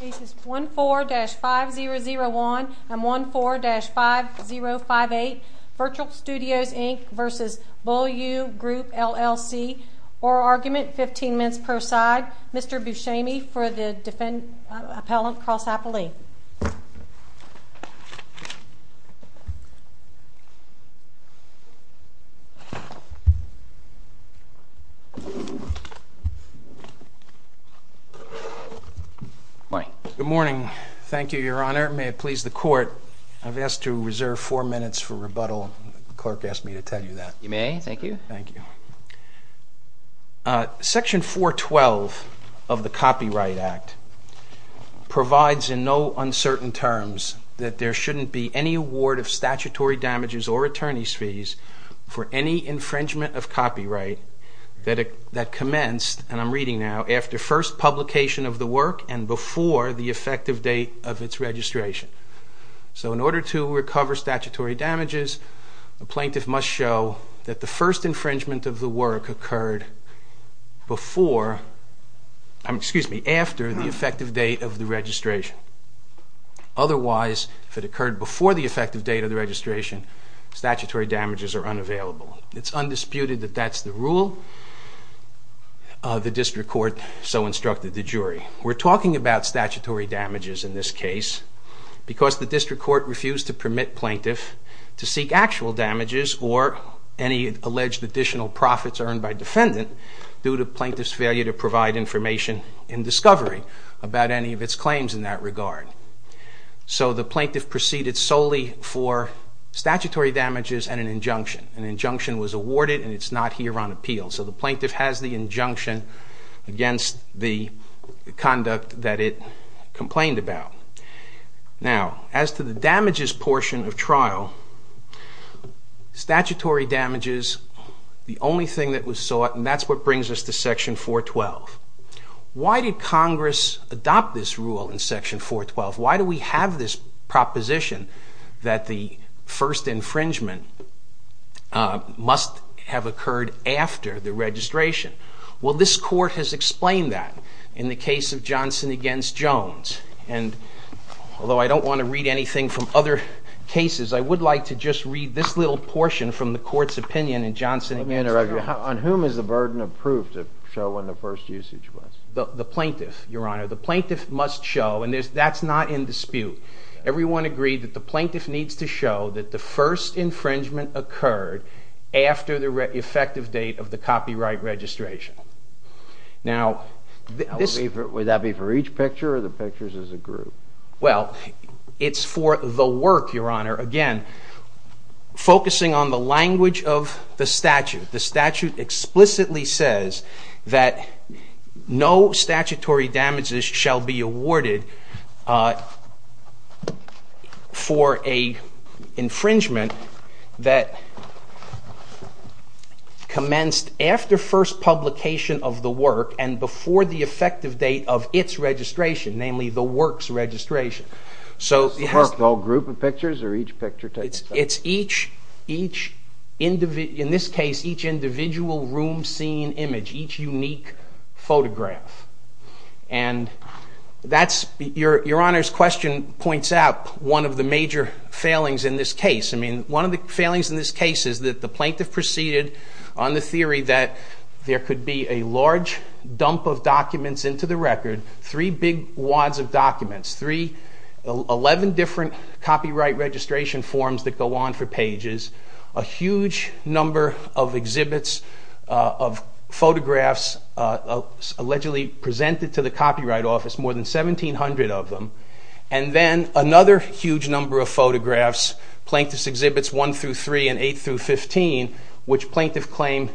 Case is 14-5001 and 14-5058 Virtual Studios Inc v. Beaulieu Group LLC Oral argument, 15 minutes per side Mr. Buscemi for the Defendant Appellant Cross-Appellee Good morning. Good morning. Thank you, Your Honor. May it please the Court. I've asked to reserve four minutes for rebuttal. The clerk asked me to tell you that. You may. Thank you. Thank you. Section 412 of the Copyright Act provides in no uncertain terms that there shouldn't be any award of statutory damages or attorney's fees for any infringement of copyright that commenced, and I'm reading now, after first publication of the work and before the effective date of its registration. So in order to recover statutory damages, a plaintiff must show that the first infringement of the work occurred after the effective date of the registration. Otherwise, if it occurred before the effective date of the registration, statutory damages are unavailable. It's undisputed that that's the rule. The District Court so instructed the jury. We're talking about statutory damages in this case because the District Court refused to permit plaintiff to seek actual damages or any alleged additional profits earned by defendant due to plaintiff's failure to provide information in discovery about any of its claims in that regard. So the plaintiff proceeded solely for statutory damages and an injunction. An injunction was awarded and it's not here on appeal. So the plaintiff has the injunction against the conduct that it complained about. Now, as to the damages portion of trial, statutory damages, the only thing that was sought, and that's what brings us to Section 412. Why did Congress adopt this rule in Section 412? Why do we have this proposition that the first infringement must have occurred after the registration? Well, this Court has explained that in the case of Johnson v. Jones. And although I don't want to read anything from other cases, I would like to just read this little portion from the Court's opinion in Johnson v. Jones. Let me interrupt you. On whom is the burden of proof to show when the first usage was? The plaintiff, Your Honor. The plaintiff must show, and that's not in dispute. Everyone agreed that the plaintiff needs to show that the first infringement occurred after the effective date of the copyright registration. Now, this... Would that be for each picture or the pictures as a group? Well, it's for the work, Your Honor. Again, focusing on the language of the statute, the statute explicitly says that no statutory damages shall be awarded for an infringement that commenced after first publication of the work and before the effective date of its registration, namely the work's registration. So... Is the work all group of pictures or each picture takes place? It's each individual... In this case, each individual room scene image, each unique photograph. And that's... Your Honor's question points out one of the major failings in this case. I mean, one of the failings in this case is that the plaintiff proceeded on the theory that there could be a large dump of documents into the record, three big wads of documents, 11 different copyright registration forms that go on for pages, a huge number of exhibits of photographs allegedly presented to the Copyright Office, more than 1,700 of them, and then another huge number of photographs, plaintiff's exhibits 1 through 3 and 8 through 15, which plaintiff claimed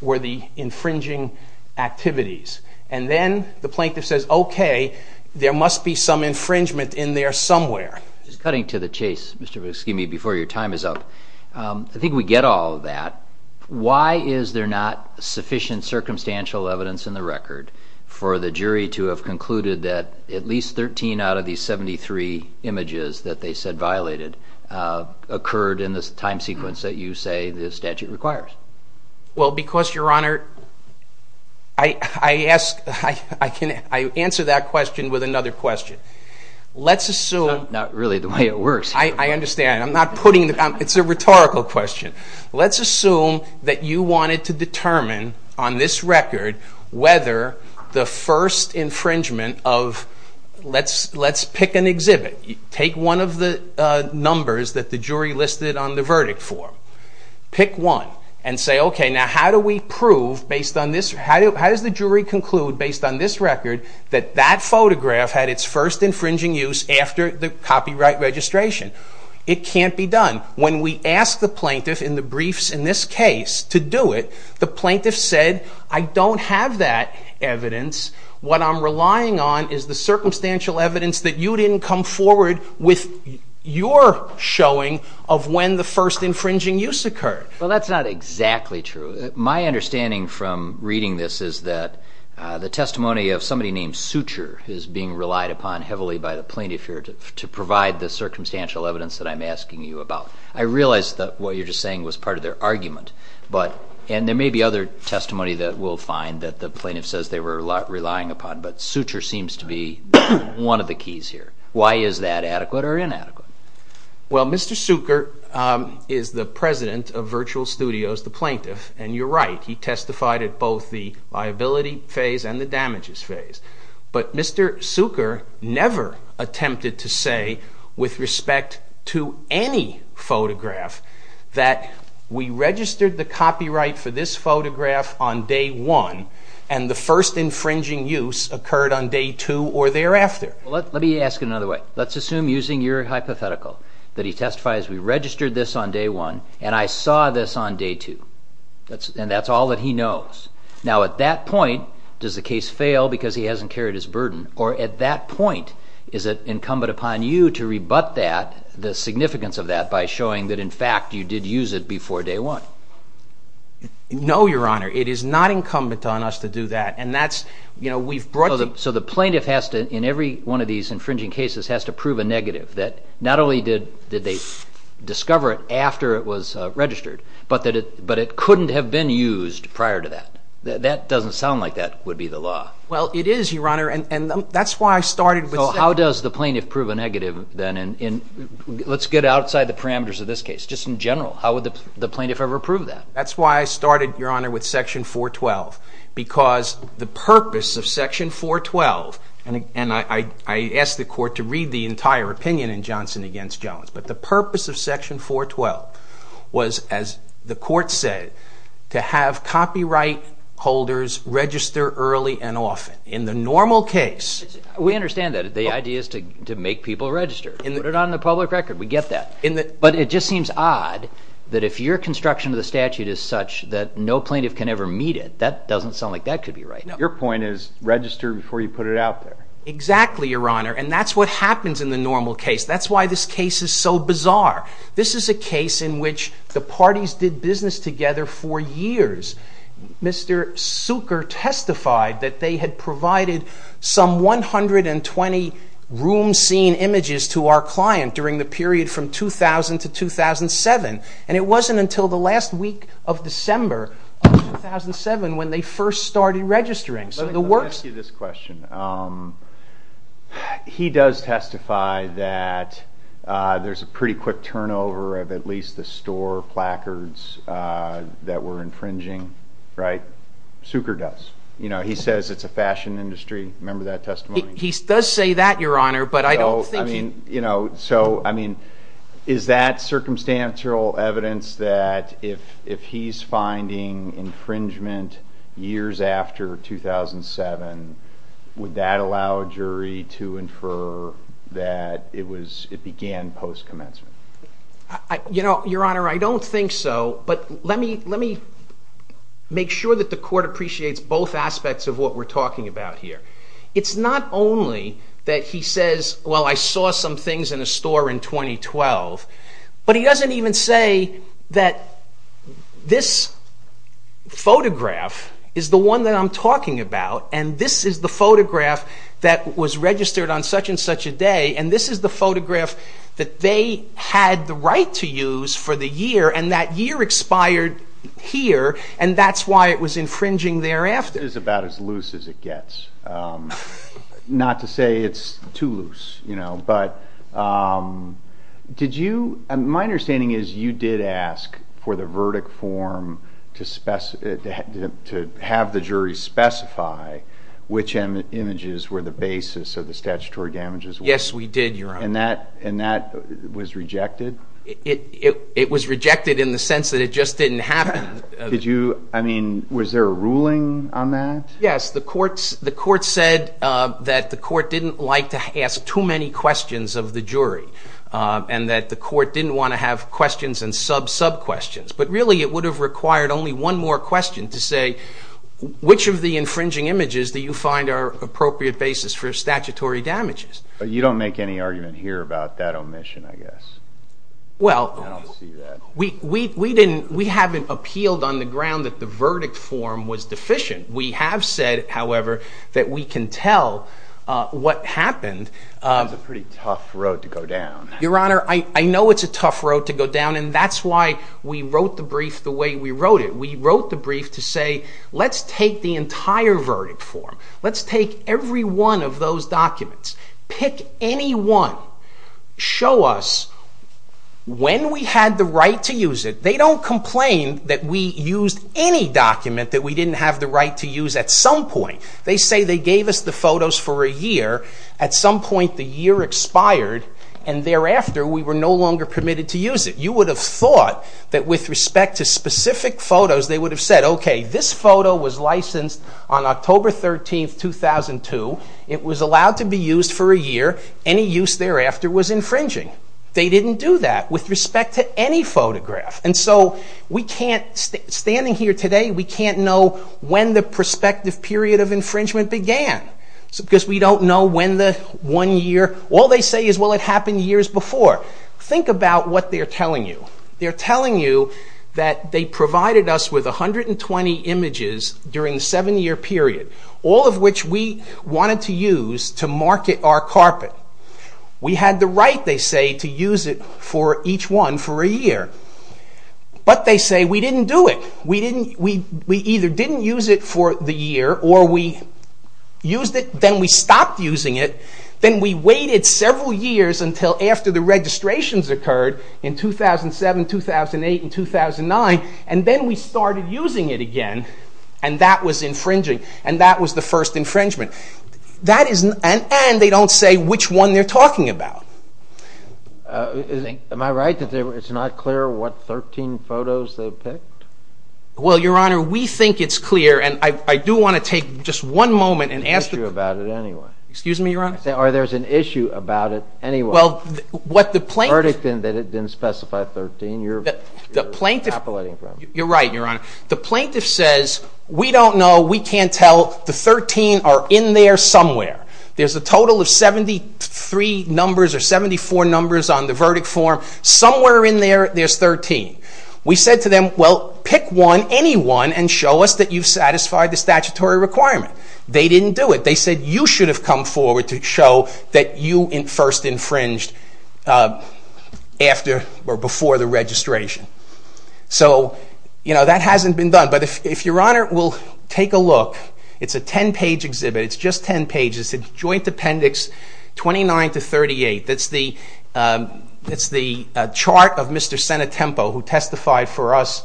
were the infringing activities. And then the plaintiff says, okay, there must be some infringement in there somewhere. Just cutting to the chase, Mr. Viscini, before your time is up, I think we get all of that. Why is there not sufficient circumstantial evidence in the record for the jury to have concluded that at least 13 out of these 73 images that they said violated occurred in the time sequence that you say the statute requires? Well, because, Your Honor, I ask, I answer that question with another question. Let's assume. Not really the way it works. I understand. I'm not putting, it's a rhetorical question. Let's assume that you wanted to determine on this record whether the first infringement of, let's pick an exhibit, take one of the numbers that the jury listed on the verdict form, pick one, and say, okay, now how do we prove based on this, how does the jury conclude based on this record that that photograph had its first infringing use after the copyright registration? It can't be done. When we ask the plaintiff in the briefs in this case to do it, the plaintiff said, I don't have that evidence. What I'm relying on is the circumstantial evidence that you didn't come forward with your showing of when the first infringing use occurred. Well, that's not exactly true. My understanding from reading this is that the testimony of somebody named Sucher is being relied upon heavily by the plaintiff here to provide the circumstantial evidence that I'm asking you about. I realize that what you're just saying was part of their argument, and there may be other testimony that we'll find that the plaintiff says they were relying upon, but Sucher seems to be one of the keys here. Why is that adequate or inadequate? Well, Mr. Sucher is the president of Virtual Studios, the plaintiff, and you're right. He testified at both the liability phase and the damages phase. But Mr. Sucher never attempted to say with respect to any photograph that we registered the copyright for this photograph on day one, and the first infringing use occurred on day two or thereafter. Let me ask it another way. Let's assume using your hypothetical that he testifies, we registered this on day one and I saw this on day two, and that's all that he knows. Now at that point, does the case fail because he hasn't carried his burden, or at that point is it incumbent upon you to rebut that, the significance of that, by showing that in fact you did use it before day one? No, Your Honor. It is not incumbent on us to do that. So the plaintiff has to, in every one of these infringing cases, has to prove a negative that not only did they discover it after it was registered, but it couldn't have been used prior to that. That doesn't sound like that would be the law. Well, it is, Your Honor, and that's why I started with section 412. So how does the plaintiff prove a negative then? Let's get outside the parameters of this case, just in general. How would the plaintiff ever prove that? That's why I started, Your Honor, with section 412. Because the purpose of section 412, and I asked the court to read the entire opinion in Johnson v. Jones, but the purpose of section 412 was, as the court said, to have copyright holders register early and often. In the normal case... We understand that. The idea is to make people register. Put it on the public record. We get that. But it just seems odd that if your construction of the statute is such that no plaintiff can ever meet it, that doesn't sound like that could be right. Your point is register before you put it out there. Exactly, Your Honor, and that's what happens in the normal case. That's why this case is so bizarre. This is a case in which the parties did business together for years. Mr. Suker testified that they had provided some 120 room scene images to our client during the period from 2000 to 2007, and it wasn't until the last week of December of 2007 when they first started registering. Let me ask you this question. He does testify that there's a pretty quick turnover of at least the store placards that were infringing, right? Suker does. He says it's a fashion industry. Remember that testimony? He does say that, Your Honor, but I don't think... So, I mean, is that circumstantial evidence that if he's finding infringement years after 2007, would that allow a jury to infer that it began post-commencement? Your Honor, I don't think so, but let me make sure that the court appreciates both aspects of what we're talking about here. It's not only that he says, well, I saw some things in a store in 2012, but he doesn't even say that this photograph is the one that I'm talking about, and this is the photograph that was registered on such and such a day, and this is the photograph that they had the right to use for the year, and that year expired here, and that's why it was infringing thereafter. It is about as loose as it gets. Not to say it's too loose, you know, but did you... My understanding is you did ask for the verdict form to have the jury specify which images were the basis of the statutory damages. Yes, we did, Your Honor. And that was rejected? It was rejected in the sense that it just didn't happen. Did you... I mean, was there a ruling on that? Yes, the court said that the court didn't like to ask too many questions of the jury, and that the court didn't want to have questions and sub-sub-questions, but really it would have required only one more question to say, which of the infringing images do you find are appropriate basis for statutory damages? But you don't make any argument here about that omission, I guess. Well... I don't see that. We haven't appealed on the ground that the verdict form was deficient. We have said, however, that we can tell what happened. That's a pretty tough road to go down. Your Honor, I know it's a tough road to go down, and that's why we wrote the brief the way we wrote it. We wrote the brief to say, let's take the entire verdict form, let's take every one of those documents, pick any one, show us when we had the right to use it. They don't complain that we used any document that we didn't have the right to use at some point. They say they gave us the photos for a year, at some point the year expired, and thereafter we were no longer permitted to use it. You would have thought that with respect to specific photos, they would have said, okay, this photo was licensed on October 13, 2002. It was allowed to be used for a year. Any use thereafter was infringing. They didn't do that with respect to any photograph. And so we can't, standing here today, we can't know when the prospective period of infringement began, because we don't know when the one year... All they say is, well, it happened years before. Think about what they're telling you. They're telling you that they provided us with 120 images during the seven-year period, all of which we wanted to use to market our carpet. We had the right, they say, to use it for each one for a year. But they say we didn't do it. We either didn't use it for the year, or we used it, then we stopped using it, then we waited several years until after the registrations occurred in 2007, 2008, and 2009, and then we started using it again, and that was infringing, and that was the first infringement. And they don't say which one they're talking about. Am I right that it's not clear what 13 photos they picked? Well, Your Honor, we think it's clear, and I do want to take just one moment and ask... Excuse me, Your Honor? Or there's an issue about it anyway. Well, what the plaintiff... The verdict didn't specify 13. The plaintiff... You're right, Your Honor. The plaintiff says, we don't know, we can't tell. The 13 are in there somewhere. There's a total of 73 numbers or 74 numbers on the verdict form. Somewhere in there, there's 13. We said to them, well, pick one, any one, and show us that you've satisfied the statutory requirement. They didn't do it. They said you should have come forward to show that you first infringed after or before the registration. So, you know, that hasn't been done, but if Your Honor will take a look, it's a 10-page exhibit. It's just 10 pages. It's Joint Appendix 29 to 38. That's the chart of Mr. Senatempo, who testified for us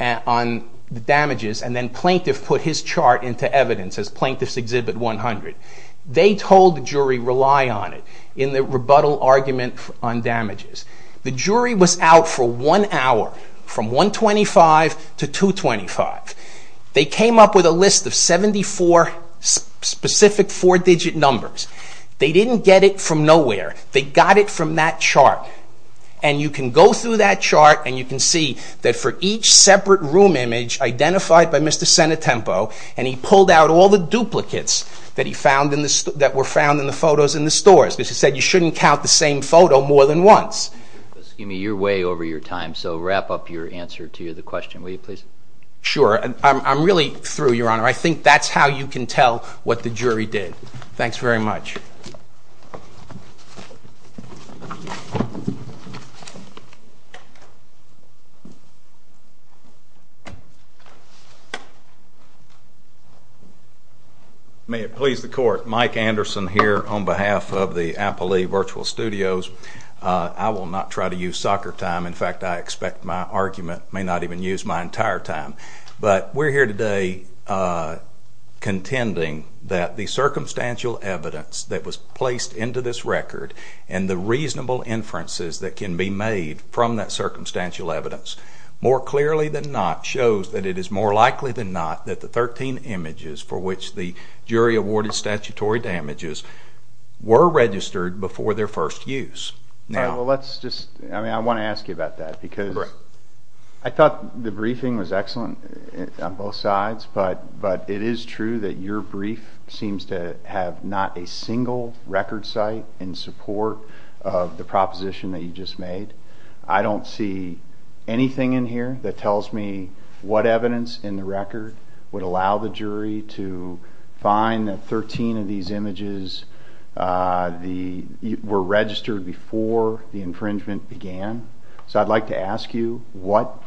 on the damages, and then plaintiff put his chart into evidence as Plaintiff's Exhibit 100. They told the jury, rely on it, in the rebuttal argument on damages. The jury was out for one hour, from 125 to 225. They came up with a list of 74 specific four-digit numbers. They didn't get it from nowhere. They got it from that chart, and you can go through that chart, and you can see that for each separate room image identified by Mr. Senatempo, and he pulled out all the duplicates that were found in the photos in the stores, because he said you shouldn't count the same photo more than once. Excuse me, you're way over your time, so wrap up your answer to the question, will you please? Sure. I'm really through, Your Honor. I think that's how you can tell what the jury did. Thanks very much. May it please the court, Mike Anderson here on behalf of the Appley Virtual Studios. I will not try to use soccer time. In fact, I expect my argument may not even use my entire time. But we're here today contending that the circumstantial evidence that was placed into this record and the reasonable inferences that can be made from that circumstantial evidence, more clearly than not, shows that it is more likely than not that the 13 images for which the jury awarded statutory damages were registered before their first use. Well, let's just, I mean, I want to ask you about that, because I thought the briefing was excellent on both sides, but it is true that your brief seems to have not a single record site in support of the proposition that you just made. I don't see anything in here that tells me what evidence in the record would allow the jury to find that 13 of these images were registered before the infringement began. So I'd like to ask you what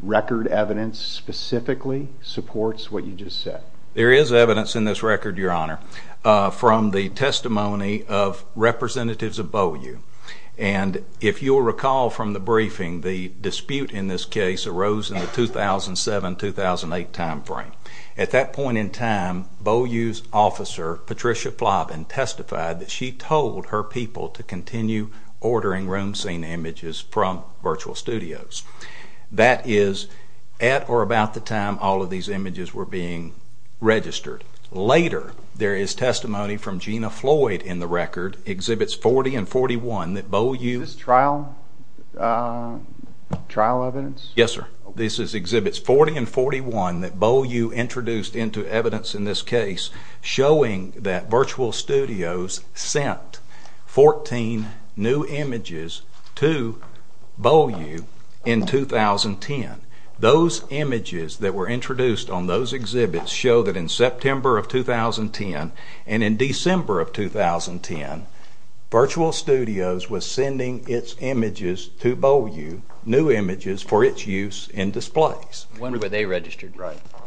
record evidence specifically supports what you just said. There is evidence in this record, Your Honor, from the testimony of representatives above you. And if you'll recall from the briefing, the dispute in this case arose in the 2007-2008 time frame. At that point in time, BOU's officer, Patricia Flavin, testified that she told her people to continue ordering room scene images from virtual studios. That is at or about the time all of these images were being registered. Later, there is testimony from Gina Floyd in the record, Exhibits 40 and 41, that BOU... Is this trial evidence? Yes, sir. This is Exhibits 40 and 41 that BOU introduced into evidence in this case showing that virtual studios sent 14 new images to BOU in 2010. Those images that were introduced on those exhibits show that in September of 2010 and in December of 2010, virtual studios was sending its images to BOU, new images, for its use in displays. When were they registered?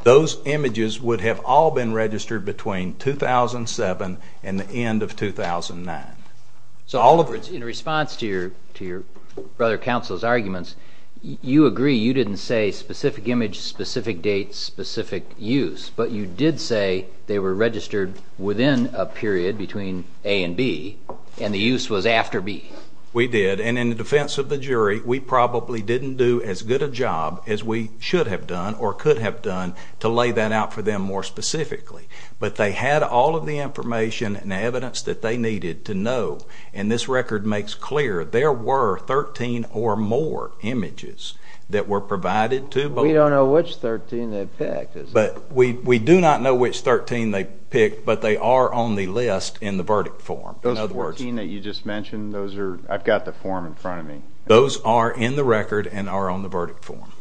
Those images would have all been registered between 2007 and the end of 2009. In response to your brother counsel's arguments, you agree you didn't say specific image, specific date, specific use, but you did say they were registered within a period between A and B and the use was after B. We did, and in the defense of the jury, we probably didn't do as good a job as we should have done or could have done to lay that out for them more specifically. But they had all of the information and evidence that they needed to know, and this record makes clear there were 13 or more images that were provided to BOU. We don't know which 13 they picked. But we do not know which 13 they picked, but they are on the list in the verdict form. Those 14 that you just mentioned, I've got the form in front of me. Those are in the record and are on the verdict form.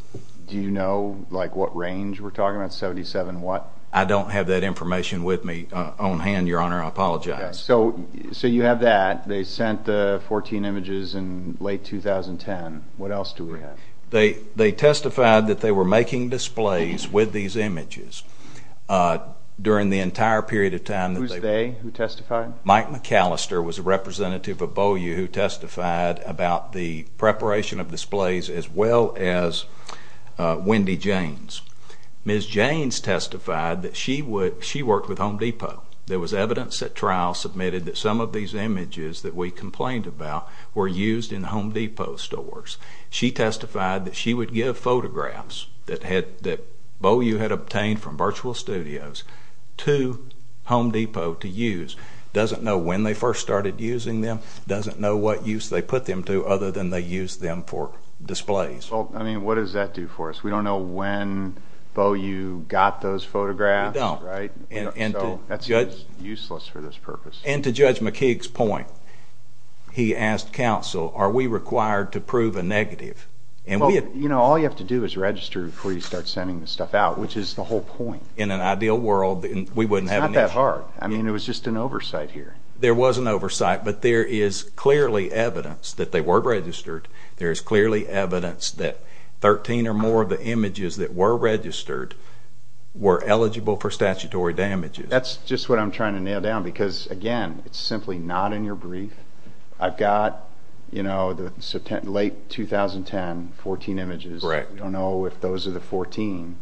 Do you know what range we're talking about, 77 what? I don't have that information with me on hand, Your Honor. I apologize. So you have that. They sent 14 images in late 2010. What else do we have? They testified that they were making displays with these images during the entire period of time. Who's they who testified? Mike McAllister was a representative of BOU who testified about the preparation of displays as well as Wendy Jaynes. Ms. Jaynes testified that she worked with Home Depot. There was evidence at trial submitted that some of these images that we complained about were used in Home Depot stores. She testified that she would give photographs that BOU had obtained from virtual studios to Home Depot to use. Doesn't know when they first started using them. Doesn't know what use they put them to other than they used them for displays. Well, I mean, what does that do for us? We don't know when BOU got those photographs. We don't. That's useless for this purpose. And to Judge McKeague's point, he asked counsel, are we required to prove a negative? All you have to do is register before you start sending this stuff out, which is the whole point. In an ideal world, we wouldn't have an issue. It's not that hard. I mean, it was just an oversight here. There was an oversight, but there is clearly evidence that they were registered. There is clearly evidence that 13 or more of the images that were registered were eligible for statutory damages. That's just what I'm trying to nail down because, again, it's simply not in your brief. I've got the late 2010, 14 images. Correct. I don't know if those are the 14.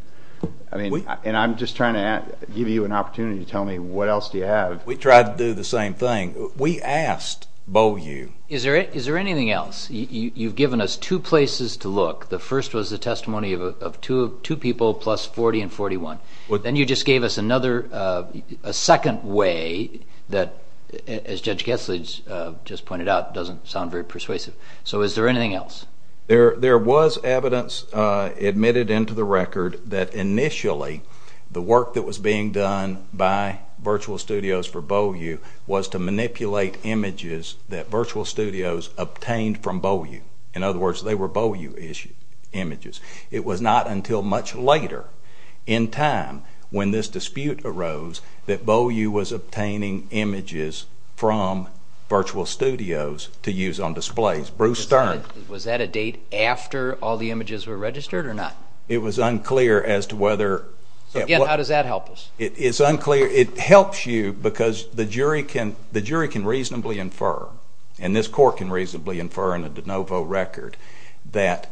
And I'm just trying to give you an opportunity to tell me what else do you have. We tried to do the same thing. We asked BOU. Is there anything else? You've given us two places to look. The first was the testimony of two people plus 40 and 41. Then you just gave us a second way that, as Judge Gessler just pointed out, doesn't sound very persuasive. So is there anything else? There was evidence admitted into the record that initially the work that was being done by Virtual Studios for BOU was to manipulate images that Virtual Studios obtained from BOU. In other words, they were BOU-issued images. It was not until much later in time, when this dispute arose, that BOU was obtaining images from Virtual Studios to use on displays. Bruce Stern. Was that a date after all the images were registered or not? It was unclear as to whether. So, again, how does that help us? It's unclear. It helps you because the jury can reasonably infer, and this court can reasonably infer in a de novo record, that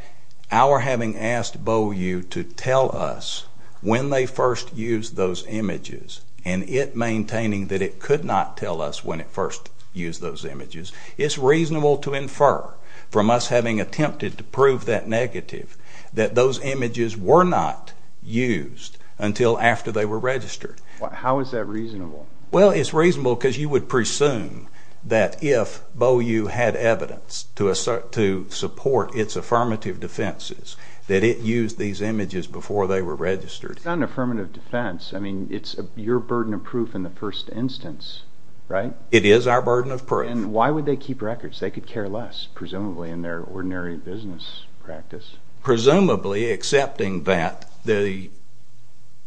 our having asked BOU to tell us when they first used those images and it maintaining that it could not tell us when it first used those images, it's reasonable to infer from us having attempted to prove that negative that those images were not used until after they were registered. How is that reasonable? Well, it's reasonable because you would presume that if BOU had evidence to support its affirmative defenses, that it used these images before they were registered. It's not an affirmative defense. I mean, it's your burden of proof in the first instance, right? It is our burden of proof. And why would they keep records? They could care less, presumably, in their ordinary business practice. Presumably, accepting that the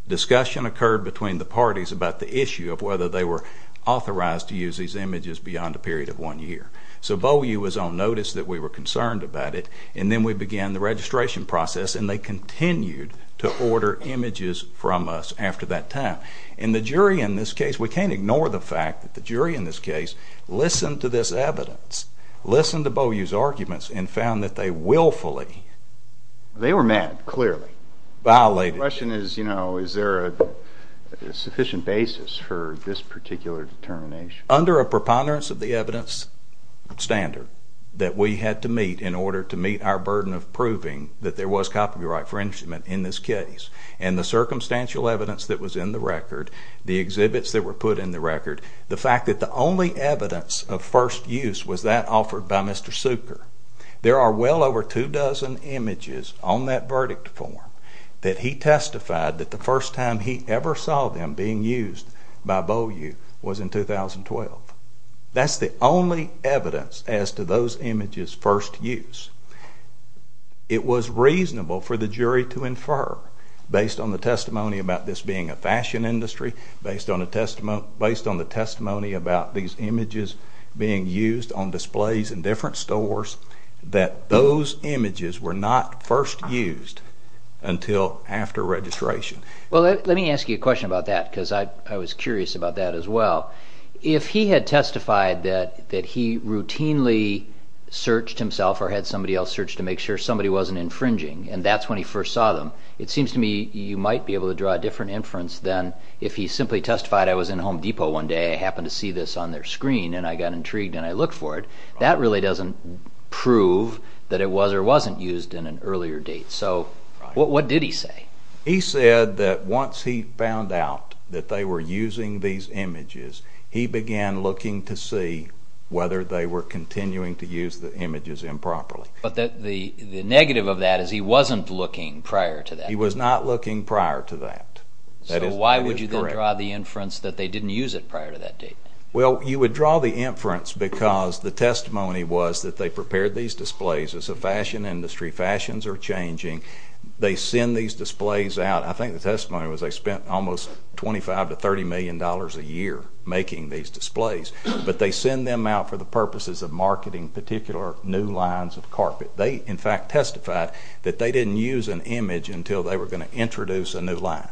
discussion occurred between the parties about the issue of whether they were authorized to use these images beyond a period of one year. So BOU was on notice that we were concerned about it, and then we began the registration process, and they continued to order images from us after that time. And the jury in this case, we can't ignore the fact that the jury in this case listened to this evidence, listened to BOU's arguments, and found that they willfully violated it. They were mad, clearly. The question is, you know, is there a sufficient basis for this particular determination? Under a preponderance of the evidence standard that we had to meet in order to meet our burden of proving that there was copyright infringement in this case, and the circumstantial evidence that was in the record, the exhibits that were put in the record, the fact that the only evidence of first use was that offered by Mr. Suker. There are well over two dozen images on that verdict form that he testified that the first time he ever saw them being used by BOU was in 2012. That's the only evidence as to those images' first use. It was reasonable for the jury to infer, based on the testimony about this being a fashion industry, based on the testimony about these images being used on displays in different stores, that those images were not first used until after registration. Well, let me ask you a question about that because I was curious about that as well. If he had testified that he routinely searched himself or had somebody else search to make sure somebody wasn't infringing, and that's when he first saw them, it seems to me you might be able to draw a different inference than if he simply testified, I was in Home Depot one day, I happened to see this on their screen, and I got intrigued and I looked for it. That really doesn't prove that it was or wasn't used in an earlier date. So what did he say? He said that once he found out that they were using these images, he began looking to see whether they were continuing to use the images improperly. But the negative of that is he wasn't looking prior to that. He was not looking prior to that. So why would you then draw the inference that they didn't use it prior to that date? Well, you would draw the inference because the testimony was that they prepared these displays. As a fashion industry, fashions are changing. They send these displays out. I think the testimony was they spent almost $25 million to $30 million a year making these displays. But they send them out for the purposes of marketing particular new lines of carpet. They, in fact, testified that they didn't use an image until they were going to introduce a new line.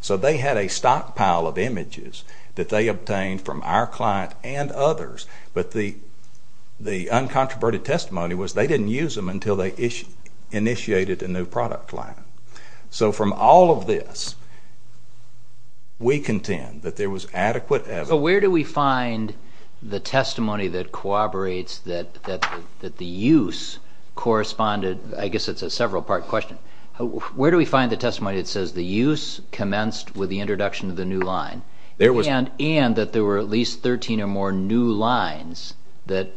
So they had a stockpile of images that they obtained from our client and others, but the uncontroverted testimony was they didn't use them until they initiated a new product line. So from all of this, we contend that there was adequate evidence. So where do we find the testimony that corroborates that the use corresponded? I guess it's a several-part question. Where do we find the testimony that says the use commenced with the introduction of the new line and that there were at least 13 or more new lines that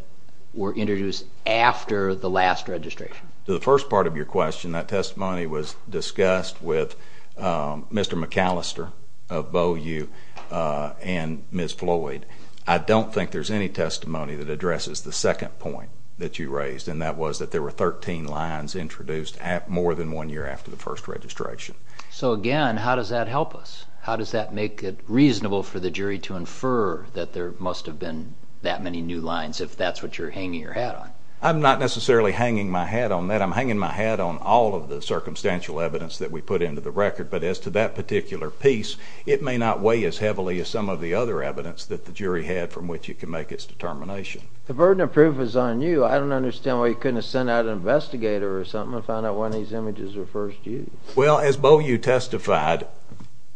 were introduced after the last registration? To the first part of your question, that testimony was discussed with Mr. McAllister of Bow U and Ms. Floyd. I don't think there's any testimony that addresses the second point that you raised, and that was that there were 13 lines introduced more than one year after the first registration. So again, how does that help us? How does that make it reasonable for the jury to infer that there must have been that many new lines if that's what you're hanging your hat on? I'm not necessarily hanging my hat on that. I'm hanging my hat on all of the circumstantial evidence that we put into the record. But as to that particular piece, it may not weigh as heavily as some of the other evidence that the jury had from which it can make its determination. The burden of proof is on you. I don't understand why you couldn't have sent out an investigator or something and found out when these images were first used. Well, as Bow U testified,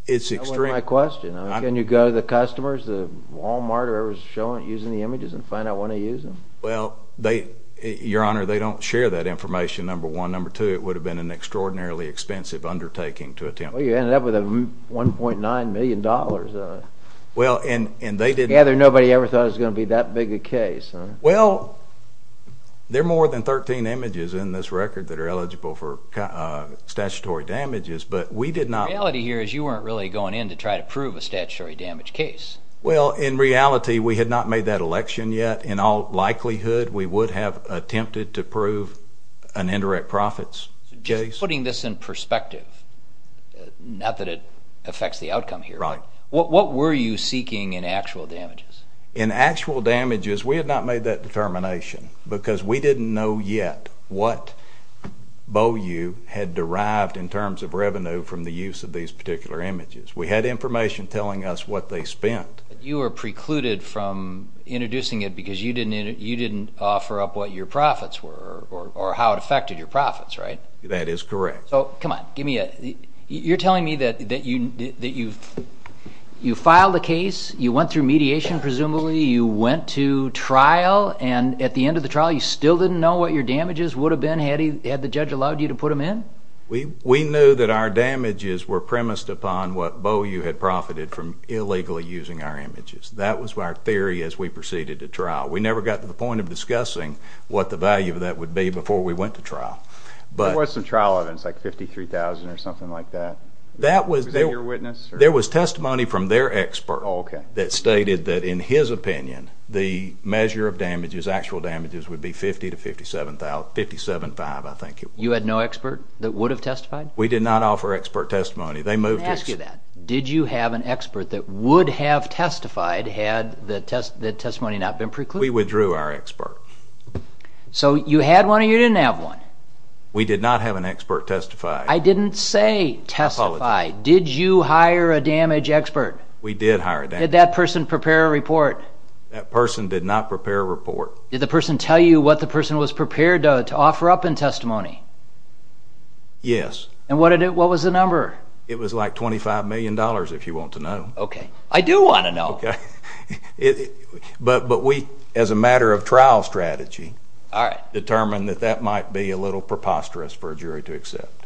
it's extreme. That wasn't my question. Can you go to the customers, the Wal-Mart or whoever's using the images and find out when they used them? Well, Your Honor, they don't share that information, number one. Number two, it would have been an extraordinarily expensive undertaking to attempt. Well, you ended up with $1.9 million. Well, and they didn't... Yeah, nobody ever thought it was going to be that big a case. Well, there are more than 13 images in this record that are eligible for statutory damages, but we did not... The reality here is you weren't really going in to try to prove a statutory damage case. Well, in reality, we had not made that election yet. In all likelihood, we would have attempted to prove an indirect profits case. Just putting this in perspective, not that it affects the outcome here, what were you seeking in actual damages? In actual damages, we had not made that determination because we didn't know yet what Bow U had derived in terms of revenue from the use of these particular images. We had information telling us what they spent. You were precluded from introducing it because you didn't offer up what your profits were or how it affected your profits, right? That is correct. Oh, come on, give me a... You're telling me that you filed a case, you went through mediation, presumably, you went to trial, and at the end of the trial, you still didn't know what your damages would have been had the judge allowed you to put them in? We knew that our damages were premised upon what Bow U had profited from illegally using our images. That was our theory as we proceeded to trial. We never got to the point of discussing what the value of that would be before we went to trial. What was the trial evidence, like $53,000 or something like that? That was... Was it your witness? There was testimony from their expert that stated that, in his opinion, the measure of damages, actual damages, would be $50,000 to $57,000, $57,500, I think it was. You had no expert that would have testified? We did not offer expert testimony. Let me ask you that. Did you have an expert that would have testified had the testimony not been precluded? We withdrew our expert. So you had one or you didn't have one? We did not have an expert testify. I didn't say testify. Did you hire a damage expert? We did hire a damage expert. Did that person prepare a report? That person did not prepare a report. Did the person tell you what the person was prepared to offer up in testimony? Yes. And what was the number? It was like $25 million, if you want to know. Okay. I do want to know. Okay. But we, as a matter of trial strategy, determined that that might be a little preposterous for a jury to accept.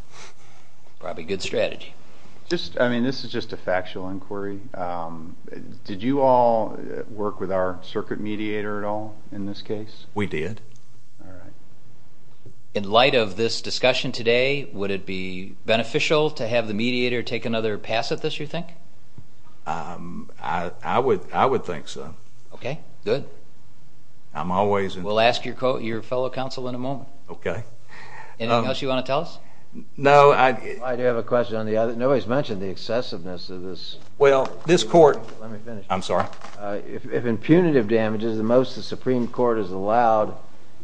Probably a good strategy. I mean, this is just a factual inquiry. Did you all work with our circuit mediator at all in this case? We did. All right. In light of this discussion today, would it be beneficial to have the mediator take another pass at this, you think? I would think so. Okay. Good. I'm always in favor. We'll ask your fellow counsel in a moment. Okay. Anything else you want to tell us? No. I do have a question on the other. Nobody's mentioned the excessiveness of this. Well, this court— Let me finish. I'm sorry. If impunitive damages, the most the Supreme Court has allowed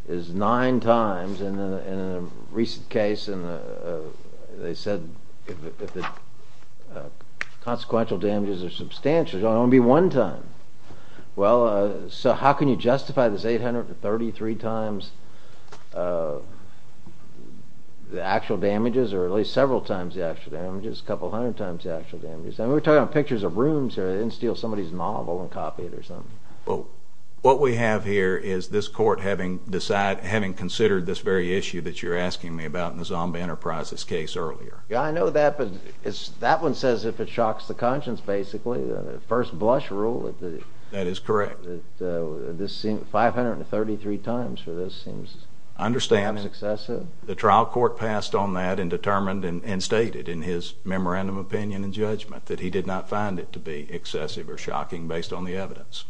is nine times. And in a recent case, they said if the consequential damages are substantial, it will only be one time. Well, so how can you justify this 833 times the actual damages or at least several times the actual damages, a couple hundred times the actual damages? I mean, we're talking about pictures of rooms here. They didn't steal somebody's novel and copy it or something. Well, what we have here is this court having considered this very issue that you're asking me about in the Zombie Enterprises case earlier. Yeah, I know that, but that one says if it shocks the conscience, basically. The first blush rule that— That is correct. —that this seems—533 times for this seems— I understand. —excessive. The trial court passed on that and determined and stated in his memorandum of opinion and judgment that he did not find it to be excessive or shocking based on the evidence.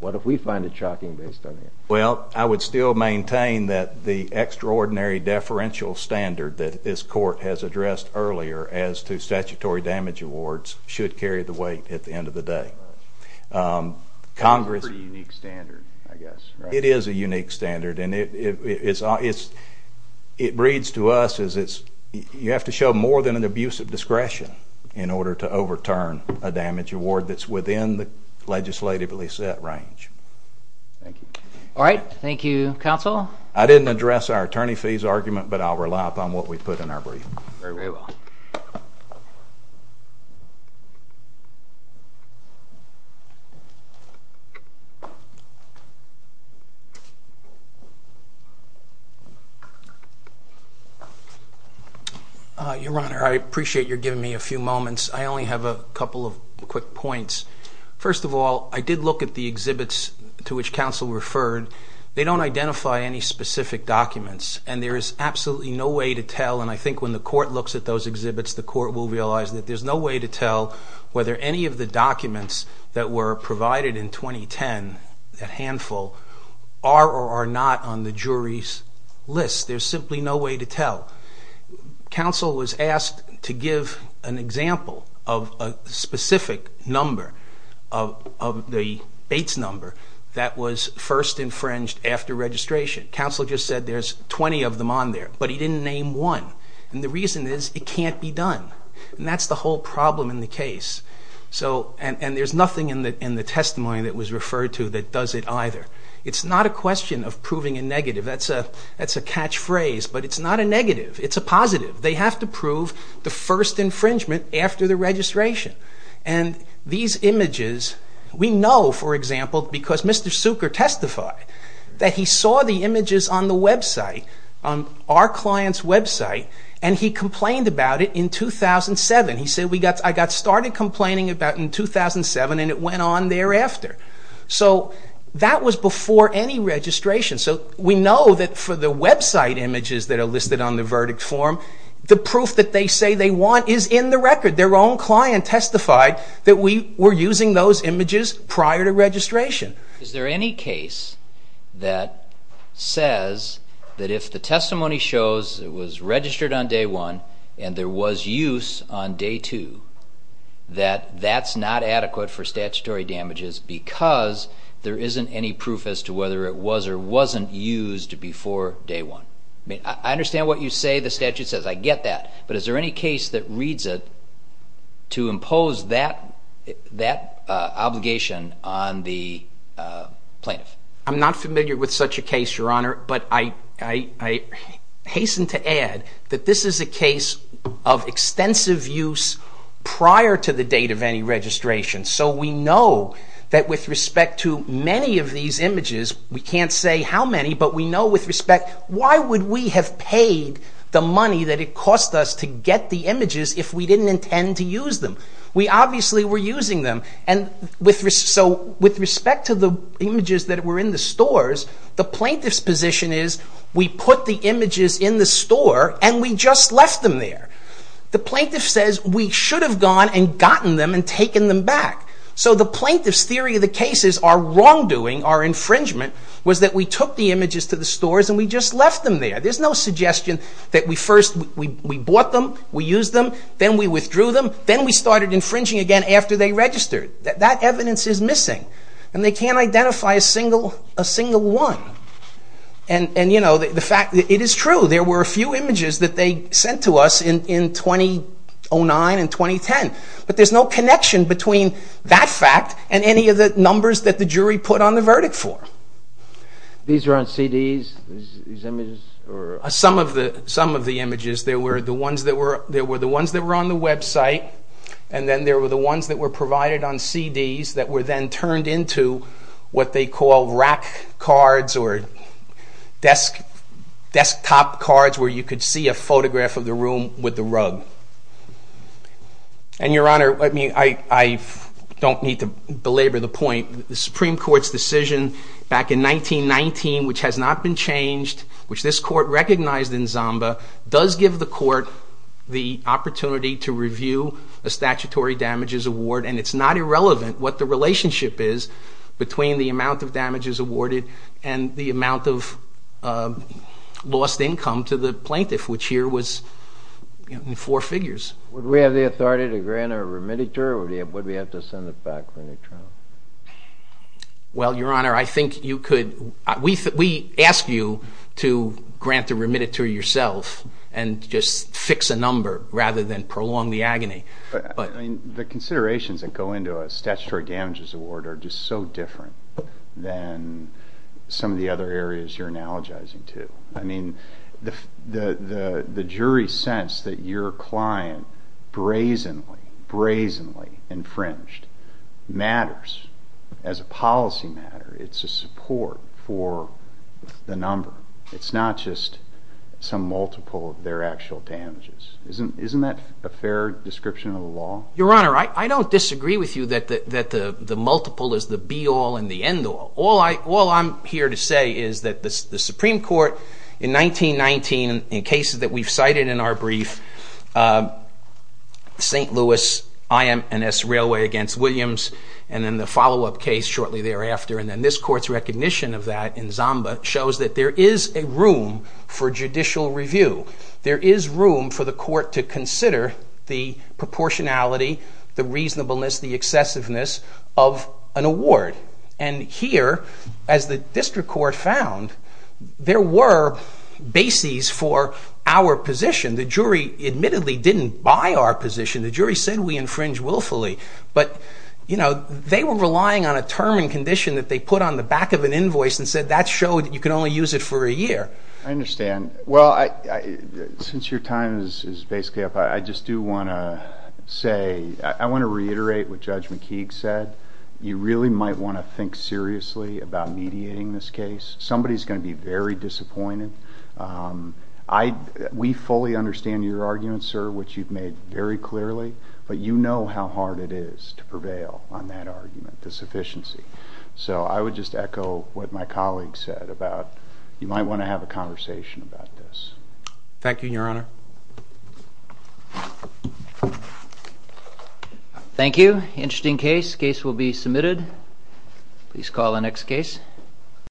What if we find it shocking based on the evidence? Well, I would still maintain that the extraordinary deferential standard that this court has addressed earlier as to statutory damage awards should carry the weight at the end of the day. It's a pretty unique standard, I guess, right? It is a unique standard, and it breeds to us as it's—you have to show more than an abusive discretion in order to overturn a damage award that's within the legislatively set range. Thank you. All right. Thank you, counsel. I didn't address our attorney fees argument, but I'll rely upon what we put in our brief. Very well. Your Honor, I appreciate your giving me a few moments. I only have a couple of quick points. First of all, I did look at the exhibits to which counsel referred. They don't identify any specific documents, and there is absolutely no way to tell. And I think when the court looks at those exhibits, the court will realize that there's no way to tell whether any of the documents that were provided in 2010, that handful, are or are not on the jury's list. Counsel was asked to give an example of a specific number, of the Bates number, that was first infringed after registration. Counsel just said there's 20 of them on there, but he didn't name one. And the reason is it can't be done. And that's the whole problem in the case. And there's nothing in the testimony that was referred to that does it either. It's not a question of proving a negative. That's a catchphrase, but it's not a negative. It's a positive. They have to prove the first infringement after the registration. And these images, we know, for example, because Mr. Suker testified, that he saw the images on the website, on our client's website, and he complained about it in 2007. He said, I got started complaining about it in 2007, and it went on thereafter. So that was before any registration. So we know that for the website images that are listed on the verdict form, the proof that they say they want is in the record. Their own client testified that we were using those images prior to registration. Is there any case that says that if the testimony shows it was registered on day one and there was use on day two, that that's not adequate for statutory damages because there isn't any proof as to whether it was or wasn't used before day one? I understand what you say the statute says. I get that. But is there any case that reads it to impose that obligation on the plaintiff? I'm not familiar with such a case, Your Honor. But I hasten to add that this is a case of extensive use prior to the date of any registration. So we know that with respect to many of these images, we can't say how many, but we know with respect, why would we have paid the money that it cost us to get the images if we didn't intend to use them? We obviously were using them. So with respect to the images that were in the stores, the plaintiff's position is we put the images in the store and we just left them there. The plaintiff says we should have gone and gotten them and taken them back. So the plaintiff's theory of the case is our wrongdoing, our infringement, was that we took the images to the stores and we just left them there. There's no suggestion that we first, we bought them, we used them, then we withdrew them, then we started infringing again after they registered. That evidence is missing. And they can't identify a single one. And, you know, the fact, it is true. There were a few images that they sent to us in 2009 and 2010. But there's no connection between that fact and any of the numbers that the jury put on the verdict for. These are on CDs, these images? Some of the images. There were the ones that were on the website and then there were the ones that were provided on CDs that were then turned into what they call rack cards or desktop cards where you could see a photograph of the room with the rug. And, Your Honor, I don't need to belabor the point. The Supreme Court's decision back in 1919, which has not been changed, which this Court recognized in Zamba, does give the Court the opportunity to review a statutory damages award. And it's not irrelevant what the relationship is between the amount of damages awarded and the amount of lost income to the plaintiff, which here was in four figures. Would we have the authority to grant a remittiture or would we have to send it back for any trial? Well, Your Honor, I think you could. We ask you to grant a remittiture yourself and just fix a number rather than prolong the agony. But the considerations that go into a statutory damages award are just so different than some of the other areas you're analogizing to. I mean, the jury sense that your client brazenly, brazenly infringed matters as a policy matter. It's a support for the number. It's not just some multiple of their actual damages. Isn't that a fair description of the law? Your Honor, I don't disagree with you that the multiple is the be-all and the end-all. All I'm here to say is that the Supreme Court in 1919, in cases that we've cited in our brief, St. Louis IMS Railway against Williams, and then the follow-up case shortly thereafter, and then this Court's recognition of that in Zamba, shows that there is a room for judicial review. There is room for the Court to consider the proportionality, the reasonableness, the excessiveness of an award. And here, as the District Court found, there were bases for our position. The jury admittedly didn't buy our position. The jury said we infringe willfully. But, you know, they were relying on a term and condition that they put on the back of an invoice and said that showed you can only use it for a year. I understand. Well, since your time is basically up, I just do want to say, I want to reiterate what Judge McKeague said. You really might want to think seriously about mediating this case. Somebody is going to be very disappointed. We fully understand your argument, sir, which you've made very clearly, but you know how hard it is to prevail on that argument, the sufficiency. So I would just echo what my colleague said about you might want to have a conversation about this. Thank you, Your Honor. Thank you. Thank you. Interesting case. Case will be submitted. Please call the next case.